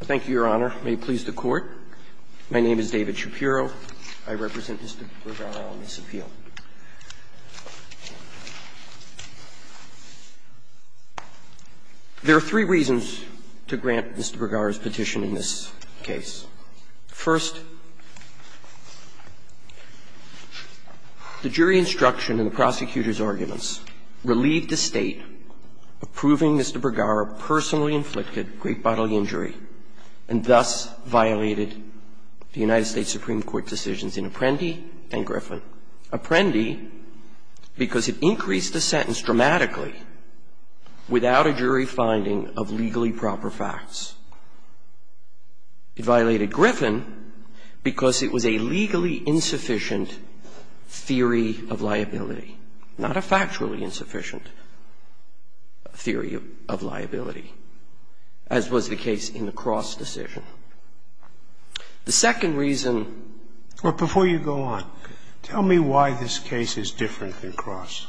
Thank you, Your Honor. May it please the Court, my name is David Shapiro. I represent Mr. Bergara on this appeal. There are three reasons to grant Mr. Bergara's petition in this case. First, the jury instruction in the prosecutor's arguments relieved the State of proving Mr. Bergara personally inflicted great bodily injury and thus violated the United States Supreme Court decisions in Apprendi and Griffin. Apprendi, because it increased the sentence dramatically without a jury finding of legally proper facts. It violated Griffin because it was a legally insufficient theory of liability, not a factually insufficient theory of liability, as was the case in the Cross decision. The second reason or before you go on, tell me why this case is different than Cross.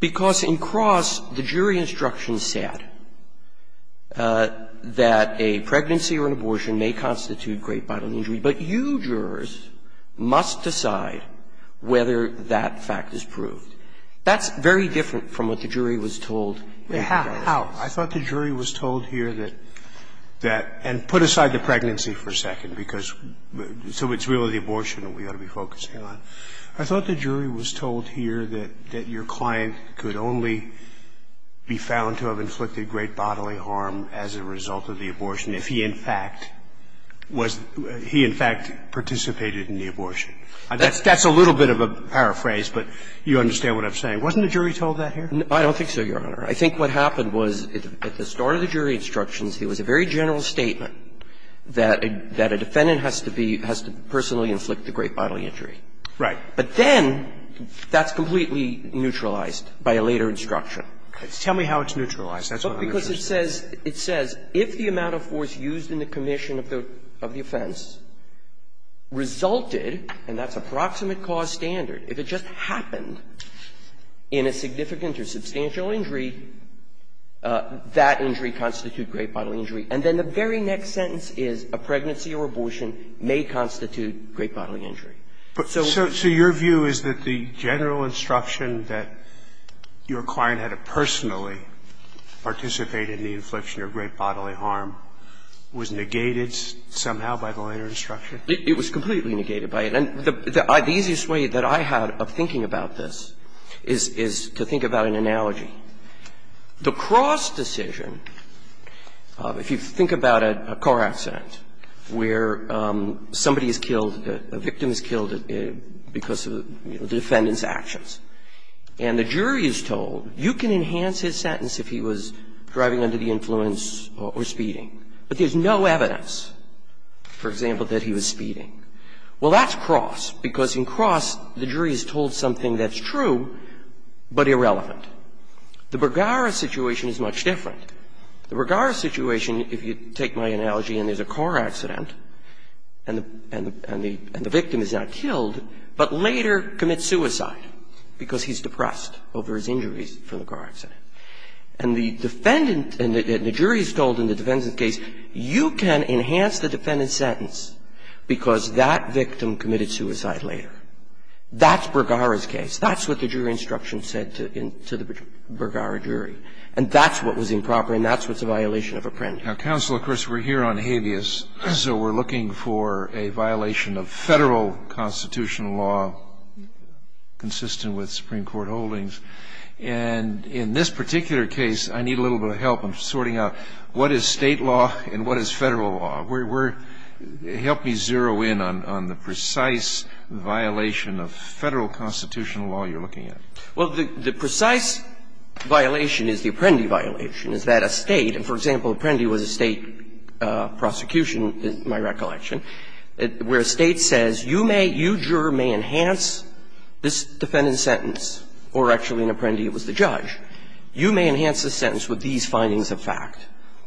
Because in Cross, the jury instruction said that a pregnancy or an abortion may constitute a great bodily injury, but you jurors must decide whether that fact is proved. That's very different from what the jury was told in Cross. Scalia, I thought the jury was told here that that – and put aside the pregnancy for a second, because – so it's really the abortion that we ought to be focusing on. I thought the jury was told here that your client could only be found to have inflicted great bodily harm as a result of the abortion if he, in fact, was – he, in fact, participated in the abortion. That's a little bit of a paraphrase, but you understand what I'm saying. Wasn't the jury told that here? I don't think so, Your Honor. I think what happened was at the start of the jury instructions, there was a very general statement that a defendant has to be – has to personally inflict the great bodily injury. Right. But then that's completely neutralized by a later instruction. Tell me how it's neutralized. That's what I'm interested in. Because it says – it says, if the amount of force used in the commission of the offense resulted, and that's a proximate cause standard, if it just happened in a significant or substantial injury, that injury constitutes great bodily injury. And then the very next sentence is a pregnancy or abortion may constitute great bodily injury. So – So your view is that the general instruction that your client had to personally participate in the infliction of great bodily harm was negated somehow by the later instruction? It was completely negated by it. And the easiest way that I had of thinking about this is to think about an analogy. The Cross decision, if you think about a car accident where somebody is killed, a victim is killed because of the defendant's actions, and the jury is told, you can enhance his sentence if he was driving under the influence or speeding. But there's no evidence, for example, that he was speeding. Well, that's Cross, because in Cross, the jury is told something that's true but irrelevant. The Bergara situation is much different. The Bergara situation, if you take my analogy and there's a car accident and the – and the – and the victim is now killed, but later commits suicide because he's depressed over his injuries from the car accident. And the defendant – and the jury is told in the defendant's case, you can enhance the defendant's sentence because that victim committed suicide later. That's Bergara's case. That's what the jury instruction said to the Bergara jury. And that's what was improper and that's what's a violation of Apprendi. Now, Counsel, of course, we're here on habeas, so we're looking for a violation of federal constitutional law consistent with Supreme Court holdings. And in this particular case, I need a little bit of help. I'm sorting out what is state law and what is federal law. Help me zero in on the precise violation of federal constitutional law you're looking at. Well, the precise violation is the Apprendi violation, is that a state – and, for example, Apprendi was a state prosecution, in my recollection, where a state says, you may – you, juror, may enhance this defendant's sentence, or actually in Apprendi it was the judge. You may enhance the sentence with these findings of fact.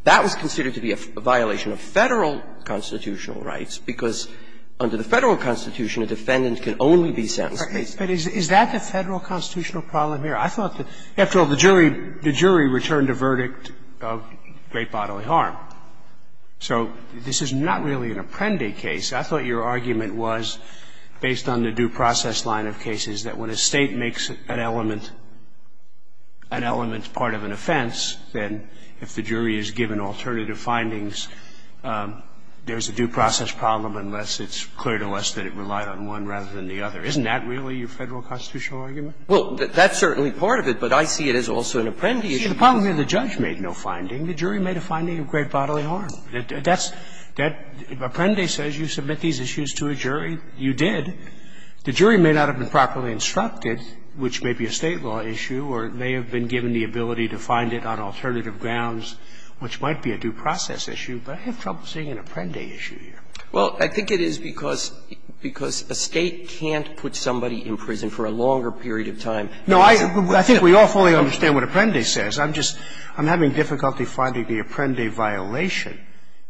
That was considered to be a violation of federal constitutional rights because under the federal constitution, a defendant can only be sentenced to death. But is that the federal constitutional problem here? I thought that – after all, the jury returned a verdict of great bodily harm. So this is not really an Apprendi case. I thought your argument was, based on the due process line of cases, that when a state makes an element part of an offense, then if the jury is given alternative findings, there's a due process problem unless it's clear to us that it relied on one rather than the other. Isn't that really your federal constitutional argument? Well, that's certainly part of it, but I see it as also an Apprendi issue. See, the problem here, the judge made no finding. The jury made a finding of great bodily harm. That's – Apprendi says you submit these issues to a jury. You did. The jury may not have been properly instructed, which may be a State law issue, or they have been given the ability to find it on alternative grounds, which might be a due process issue, but I have trouble seeing an Apprendi issue here. Well, I think it is because a State can't put somebody in prison for a longer period of time. No, I think we all fully understand what Apprendi says. I'm just – I'm having difficulty finding the Apprendi violation.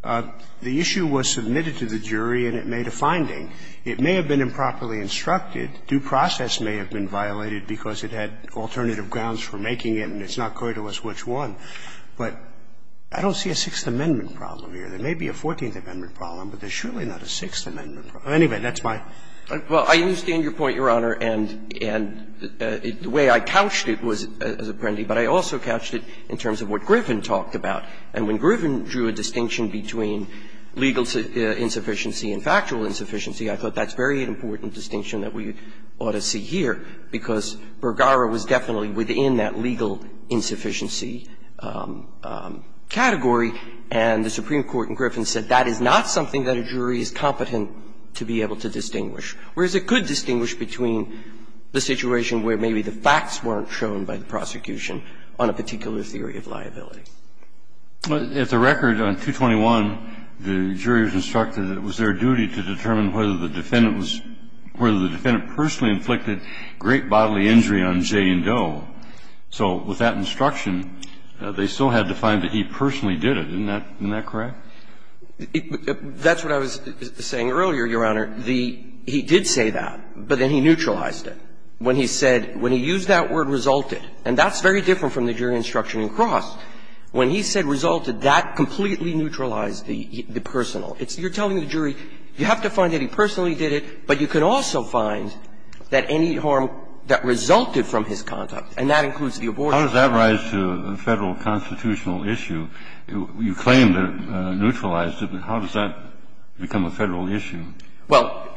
The issue was submitted to the jury and it made a finding. It may have been improperly instructed. Due process may have been violated because it had alternative grounds for making it and it's not clear to us which one. But I don't see a Sixth Amendment problem here. There may be a Fourteenth Amendment problem, but there's surely not a Sixth Amendment problem. Anyway, that's my – Well, I understand your point, Your Honor, and the way I couched it was as Apprendi, but I also couched it in terms of what Griffin talked about. And when Griffin drew a distinction between legal insufficiency and factual insufficiency, I thought that's a very important distinction that we ought to see here, because Bergara was definitely within that legal insufficiency category. And the Supreme Court in Griffin said that is not something that a jury is competent to be able to distinguish. Whereas it could distinguish between the situation where maybe the facts weren't shown by the prosecution on a particular theory of liability. If the record on 221, the jury was instructed that it was their duty to determine whether the defendant was – whether the defendant personally inflicted great bodily injury on Jay and Doe. So with that instruction, they still had to find that he personally did it. Isn't that – isn't that correct? That's what I was saying earlier, Your Honor. The – he did say that, but then he neutralized it. When he said – when he used that word, resulted, and that's very different from the jury instruction in Cross. When he said resulted, that completely neutralized the personal. It's – you're telling the jury you have to find that he personally did it, but you can also find that any harm that resulted from his conduct, and that includes the abortion. How does that rise to a Federal constitutional issue? You claim to neutralize it, but how does that become a Federal issue? Well,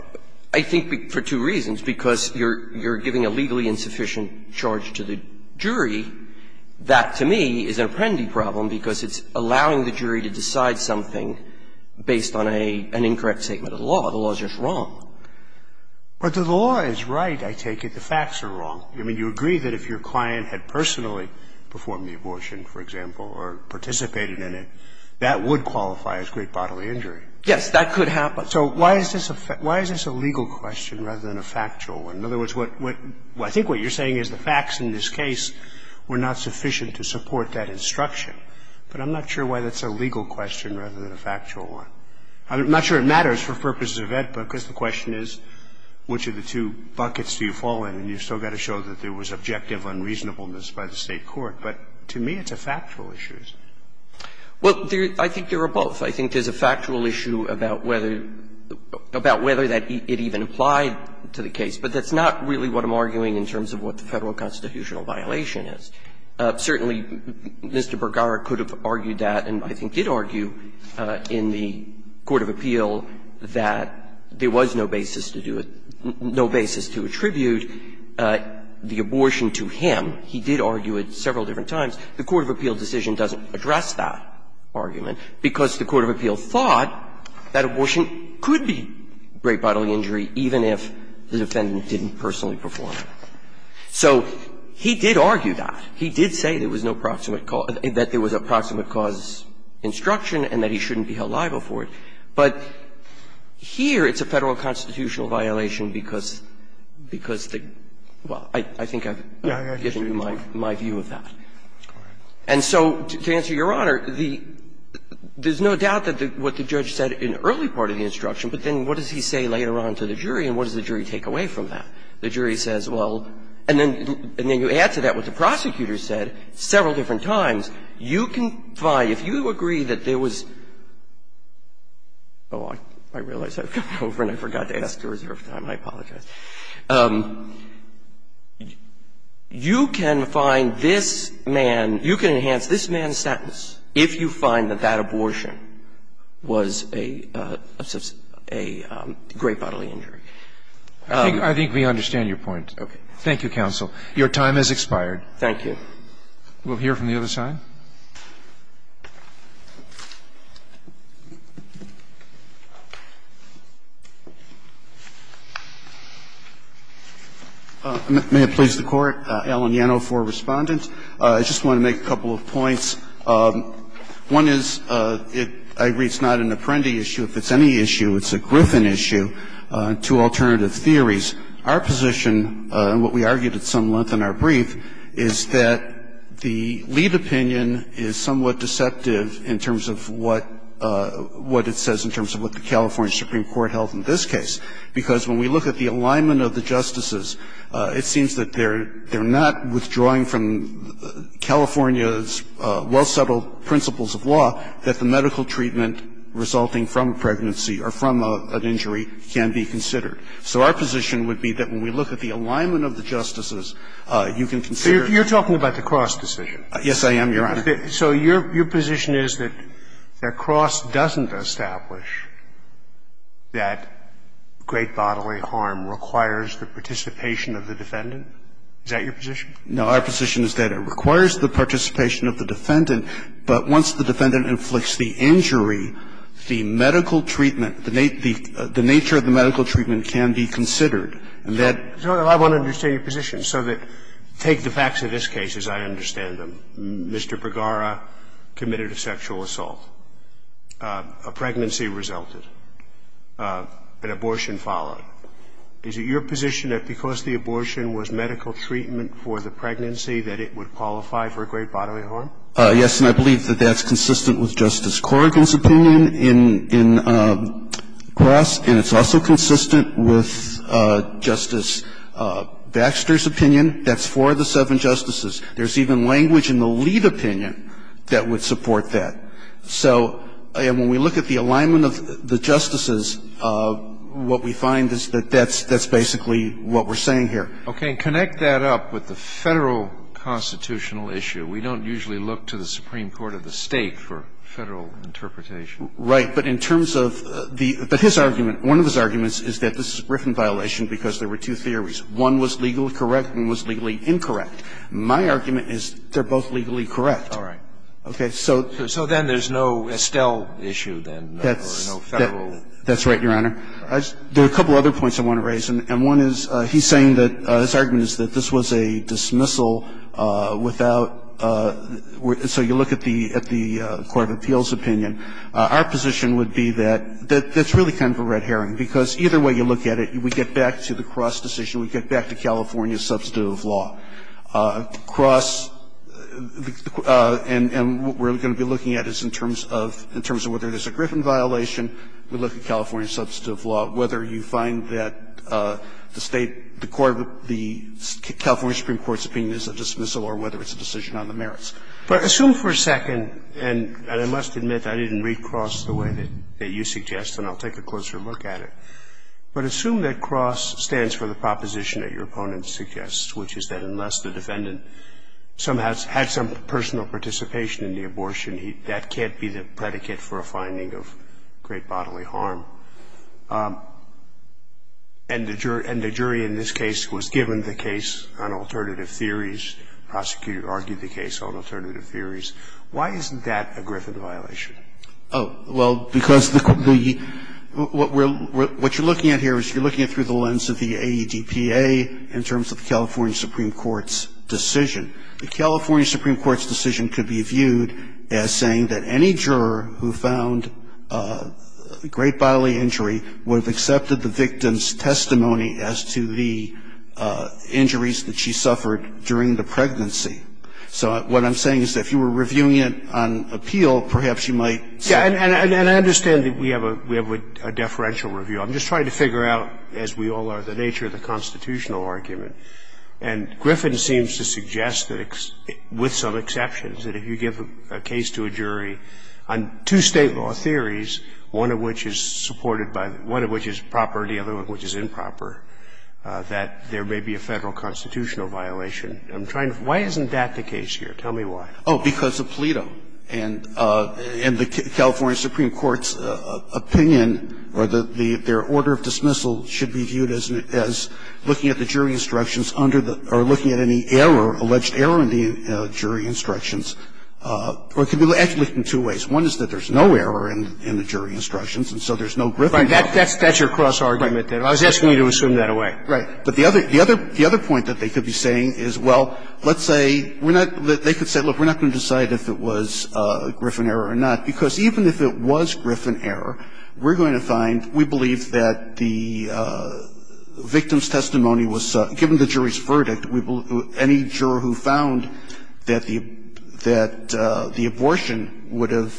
I think for two reasons, because you're – you're giving a legally insufficient charge to the jury. That, to me, is an apprendee problem because it's allowing the jury to decide something based on a – an incorrect statement of the law. The law is just wrong. But the law is right, I take it. The facts are wrong. I mean, you agree that if your client had personally performed the abortion, for example, or participated in it, that would qualify as great bodily injury. Yes, that could happen. So why is this a – why is this a legal question rather than a factual one? In other words, what – I think what you're saying is the facts in this case were not sufficient to support that instruction. But I'm not sure why that's a legal question rather than a factual one. I'm not sure it matters for purposes of AEDPA because the question is which of the two buckets do you fall in, and you've still got to show that there was objective unreasonableness by the State court, but to me it's a factual issue. Well, there – I think there are both. I think there's a factual issue about whether – about whether that it even applied to the case, but that's not really what I'm arguing in terms of what the Federal constitutional violation is. Certainly, Mr. Bergara could have argued that and I think did argue in the court of appeal that there was no basis to do it – no basis to attribute the abortion to him. He did argue it several different times. The court of appeal decision doesn't address that argument because the court of appeal thought that abortion could be great bodily injury even if the defendant didn't personally perform it. So he did argue that. He did say there was no proximate cause – that there was a proximate cause instruction and that he shouldn't be held liable for it. But here it's a Federal constitutional violation because – because the – well, I think I've given you my view of that. And so, to answer Your Honor, the – there's no doubt that what the judge said in the early part of the instruction, but then what does he say later on to the jury and what does the jury take away from that? The jury says, well – and then you add to that what the prosecutor said several different times. You can find – if you agree that there was – oh, I realize I've come over and I forgot to ask to reserve time. I apologize. You can find this man – you can enhance this man's sentence if you find that that abortion was a – a great bodily injury. I think we understand your point. Okay. Thank you, counsel. Your time has expired. Thank you. We'll hear from the other side. May it please the Court. Alan Yano for Respondent. I just want to make a couple of points. One is, I agree it's not an Apprendi issue. If it's any issue, it's a Griffin issue, two alternative theories. Our position, and what we argued at some length in our brief, is that the lead opinion is somewhat deceptive in terms of what – what it says in terms of what the California Supreme Court held in this case, because when we look at the alignment of the justices, it seems that they're – they're not withdrawing from California's well-settled principles of law that the medical treatment resulting from pregnancy or from an injury can be considered. So our position would be that when we look at the alignment of the justices, you can consider – So you're talking about the Cross decision? Yes, I am, Your Honor. So your – your position is that Cross doesn't establish that great bodily harm requires the participation of the defendant? Is that your position? No. Our position is that it requires the participation of the defendant, but once the defendant inflicts the injury, the medical treatment – the nature of the medical treatment can be considered. And that – Your Honor, I want to understand your position so that – take the facts of this case as I understand them. Mr. Bergara committed a sexual assault, a pregnancy resulted, an abortion followed. Is it your position that because the abortion was medical treatment for the pregnancy that it would qualify for great bodily harm? Yes, and I believe that that's consistent with Justice Corrigan's opinion in – in Cross, and it's also consistent with Justice Baxter's opinion. That's for the seven justices. There's even language in the lead opinion that would support that. So when we look at the alignment of the justices, what we find is that that's – that's basically what we're saying here. Okay. And connect that up with the Federal constitutional issue. We don't usually look to the Supreme Court or the State for Federal interpretation. Right. But in terms of the – but his argument – one of his arguments is that this is Griffin violation because there were two theories. One was legally correct and one was legally incorrect. My argument is they're both legally correct. All right. Okay. So – So then there's no Estelle issue then, or no Federal? That's right, Your Honor. There are a couple other points I want to raise, and one is he's saying that – his argument is that if you look at the – if you look at the Supreme Court's opinion, the Supreme Court's opinion is that the State should dismissal without – so you look at the – at the Court of Appeals' opinion. Our position would be that that's really kind of a red herring, because either way you look at it, we get back to the Cross decision, we get back to California's substantive law. Cross – and what we're going to be looking at is in terms of – in terms of whether the Supreme Court's opinion is a dismissal or whether it's a decision on the merits. But assume for a second – and I must admit, I didn't read Cross the way that you suggest, and I'll take a closer look at it – but assume that Cross stands for the proposition that your opponent suggests, which is that unless the defendant somehow had some personal participation in the abortion, that can't be the predicate for a finding of great bodily harm. And the jury in this case was given the case on alternative theories, prosecuted – argued the case on alternative theories. Why isn't that a Griffin violation? Oh, well, because the – what you're looking at here is you're looking at through the lens of the AEDPA in terms of the California Supreme Court's decision. The California Supreme Court's decision could be viewed as saying that any juror who found great bodily injury would have accepted the victim's testimony as to the injuries that she suffered during the pregnancy. So what I'm saying is that if you were reviewing it on appeal, perhaps you might say – And I understand that we have a – we have a deferential review. I'm just trying to figure out, as we all are, the nature of the constitutional argument. And Griffin seems to suggest that, with some exceptions, that if you give a case to a jury on two State law theories, one of which is supported by – one of which is proper and the other one which is improper, that there may be a Federal constitutional violation. I'm trying to – why isn't that the case here? Tell me why. Oh, because of PLETO. And the California Supreme Court's opinion or their order of dismissal should be viewed as looking at the jury instructions under the – or looking at any error, alleged error in the jury instructions. Or it could be actually looked at in two ways. One is that there's no error in the jury instructions, and so there's no Griffin problem. Right. That's your cross-argument there. Right. I was asking you to assume that away. Right. But the other – the other point that they could be saying is, well, let's say we're not – they could say, look, we're not going to decide if it was Griffin error or not, because even if it was Griffin error, we're going to find – we believe that the victim's testimony was – given the jury's verdict, any juror who found that the – that the abortion would have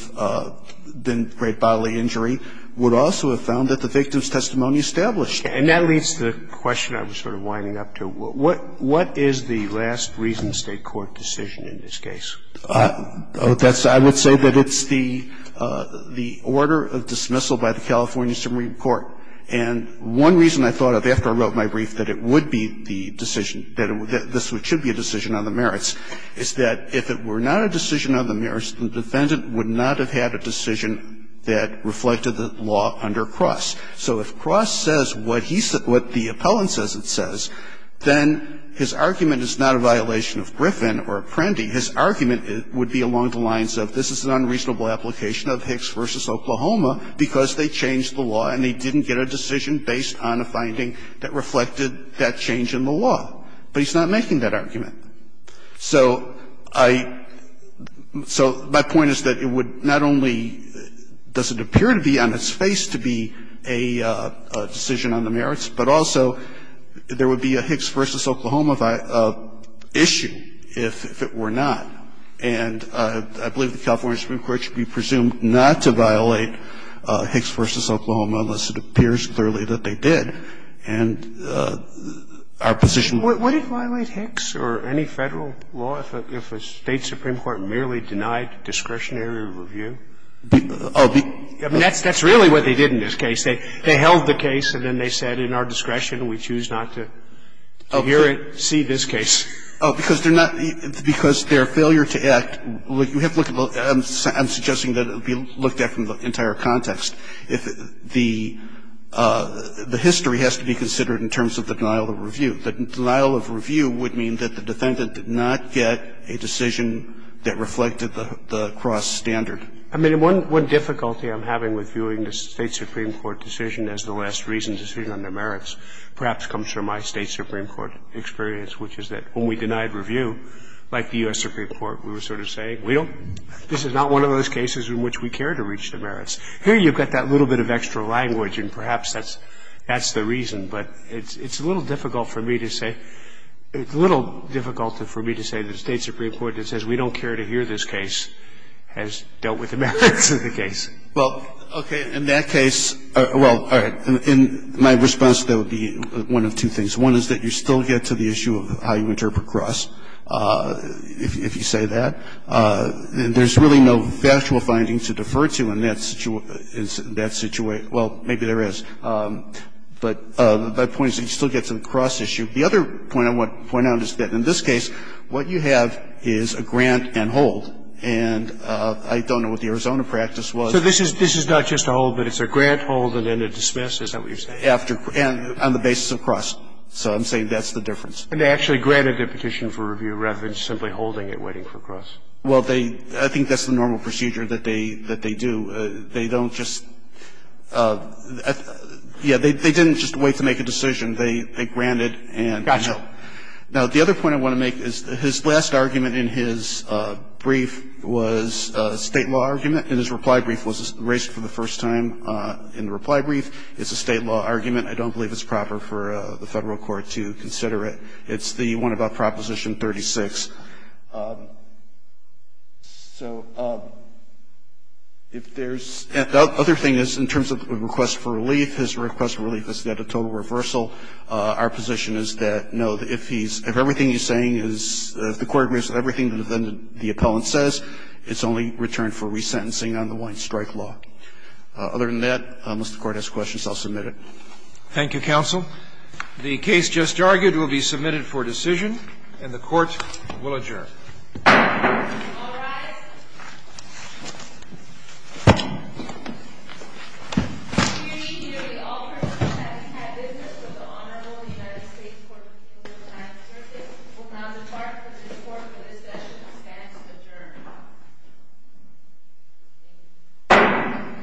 been great bodily injury would also have found that the victim's testimony established it. And that leads to the question I was sort of winding up to. What – what is the last reason State court decision in this case? That's – I would say that it's the – the order of dismissal by the California Supreme Court. And one reason I thought of after I wrote my brief that it would be the decision – that this should be a decision on the merits is that if it were not a decision on the merits, the defendant would not have had a decision that reflected the law under Cross. So if Cross says what he – what the appellant says it says, then his argument is not a violation of Griffin or Apprendi. His argument would be along the lines of this is an unreasonable application of Hicks v. Oklahoma because they changed the law and they didn't get a decision based on a finding that reflected that change in the law. But he's not making that argument. So I – so my point is that it would not only – does it appear to be on its face to be a decision on the merits, but also there would be a Hicks v. Oklahoma issue if – if it were not. And I believe the California Supreme Court should be presumed not to violate Hicks v. Oklahoma unless it appears clearly that they did. And our position – What – would it violate Hicks or any Federal law if a State Supreme Court merely denied discretionary review? Oh, be – I mean, that's – that's really what they did in this case. They held the case and then they said in our discretion, we choose not to hear it, see this case. Oh, because they're not – because their failure to act – you have to look at – I'm suggesting that it would be looked at from the entire context. If the – the history has to be considered in terms of the denial of review. The denial of review would mean that the defendant did not get a decision that reflected the cross-standard. I mean, one – one difficulty I'm having with viewing the State Supreme Court decision as the last reason decision on the merits perhaps comes from my State Supreme Court experience, which is that when we denied review, like the U.S. Supreme Court, we were sort of saying, we don't – this is not one of those cases in which we care to reach the merits. Here you've got that little bit of extra language and perhaps that's – that's the reason, but it's – it's a little difficult for me to say – it's a little difficult for me to say the State Supreme Court that says we don't care to hear this case has dealt with the merits of the case. Well, okay. In that case – well, all right. In my response, there would be one of two things. One is that you still get to the issue of how you interpret cross, if you say that. And there's really no factual finding to defer to in that situation – in that situation – well, maybe there is. But the point is that you still get to the cross issue. The other point I want to point out is that in this case, what you have is a grant and hold, and I don't know what the Arizona practice was. So this is – this is not just a hold, but it's a grant hold and then a dismiss, is that what you're saying? After – and on the basis of cross. So I'm saying that's the difference. And they actually granted the petition for review rather than simply holding it waiting for cross. Well, they – I think that's the normal procedure that they – that they do. They don't just – yeah, they didn't just wait to make a decision. They granted and held. Gotcha. Now, the other point I want to make is his last argument in his brief was a State law argument, and his reply brief was erased for the first time in the reply brief. It's a State law argument. I don't believe it's proper for the Federal Court to consider it. It's the one about Proposition 36. So if there's – and the other thing is in terms of a request for relief, his request for relief is that a total reversal. Our position is that, no, if he's – if everything he's saying is – if the Court agrees with everything that the appellant says, it's only return for resentencing on the Wine Strike Law. Other than that, unless the Court has questions, I'll submit it. Thank you, counsel. We'll adjourn. All rise. We hereby offer that we have business with the Honorable United States Court of Appeals of the United States Circuit. We'll now depart from this Court for this session. Adjourned. Thank you.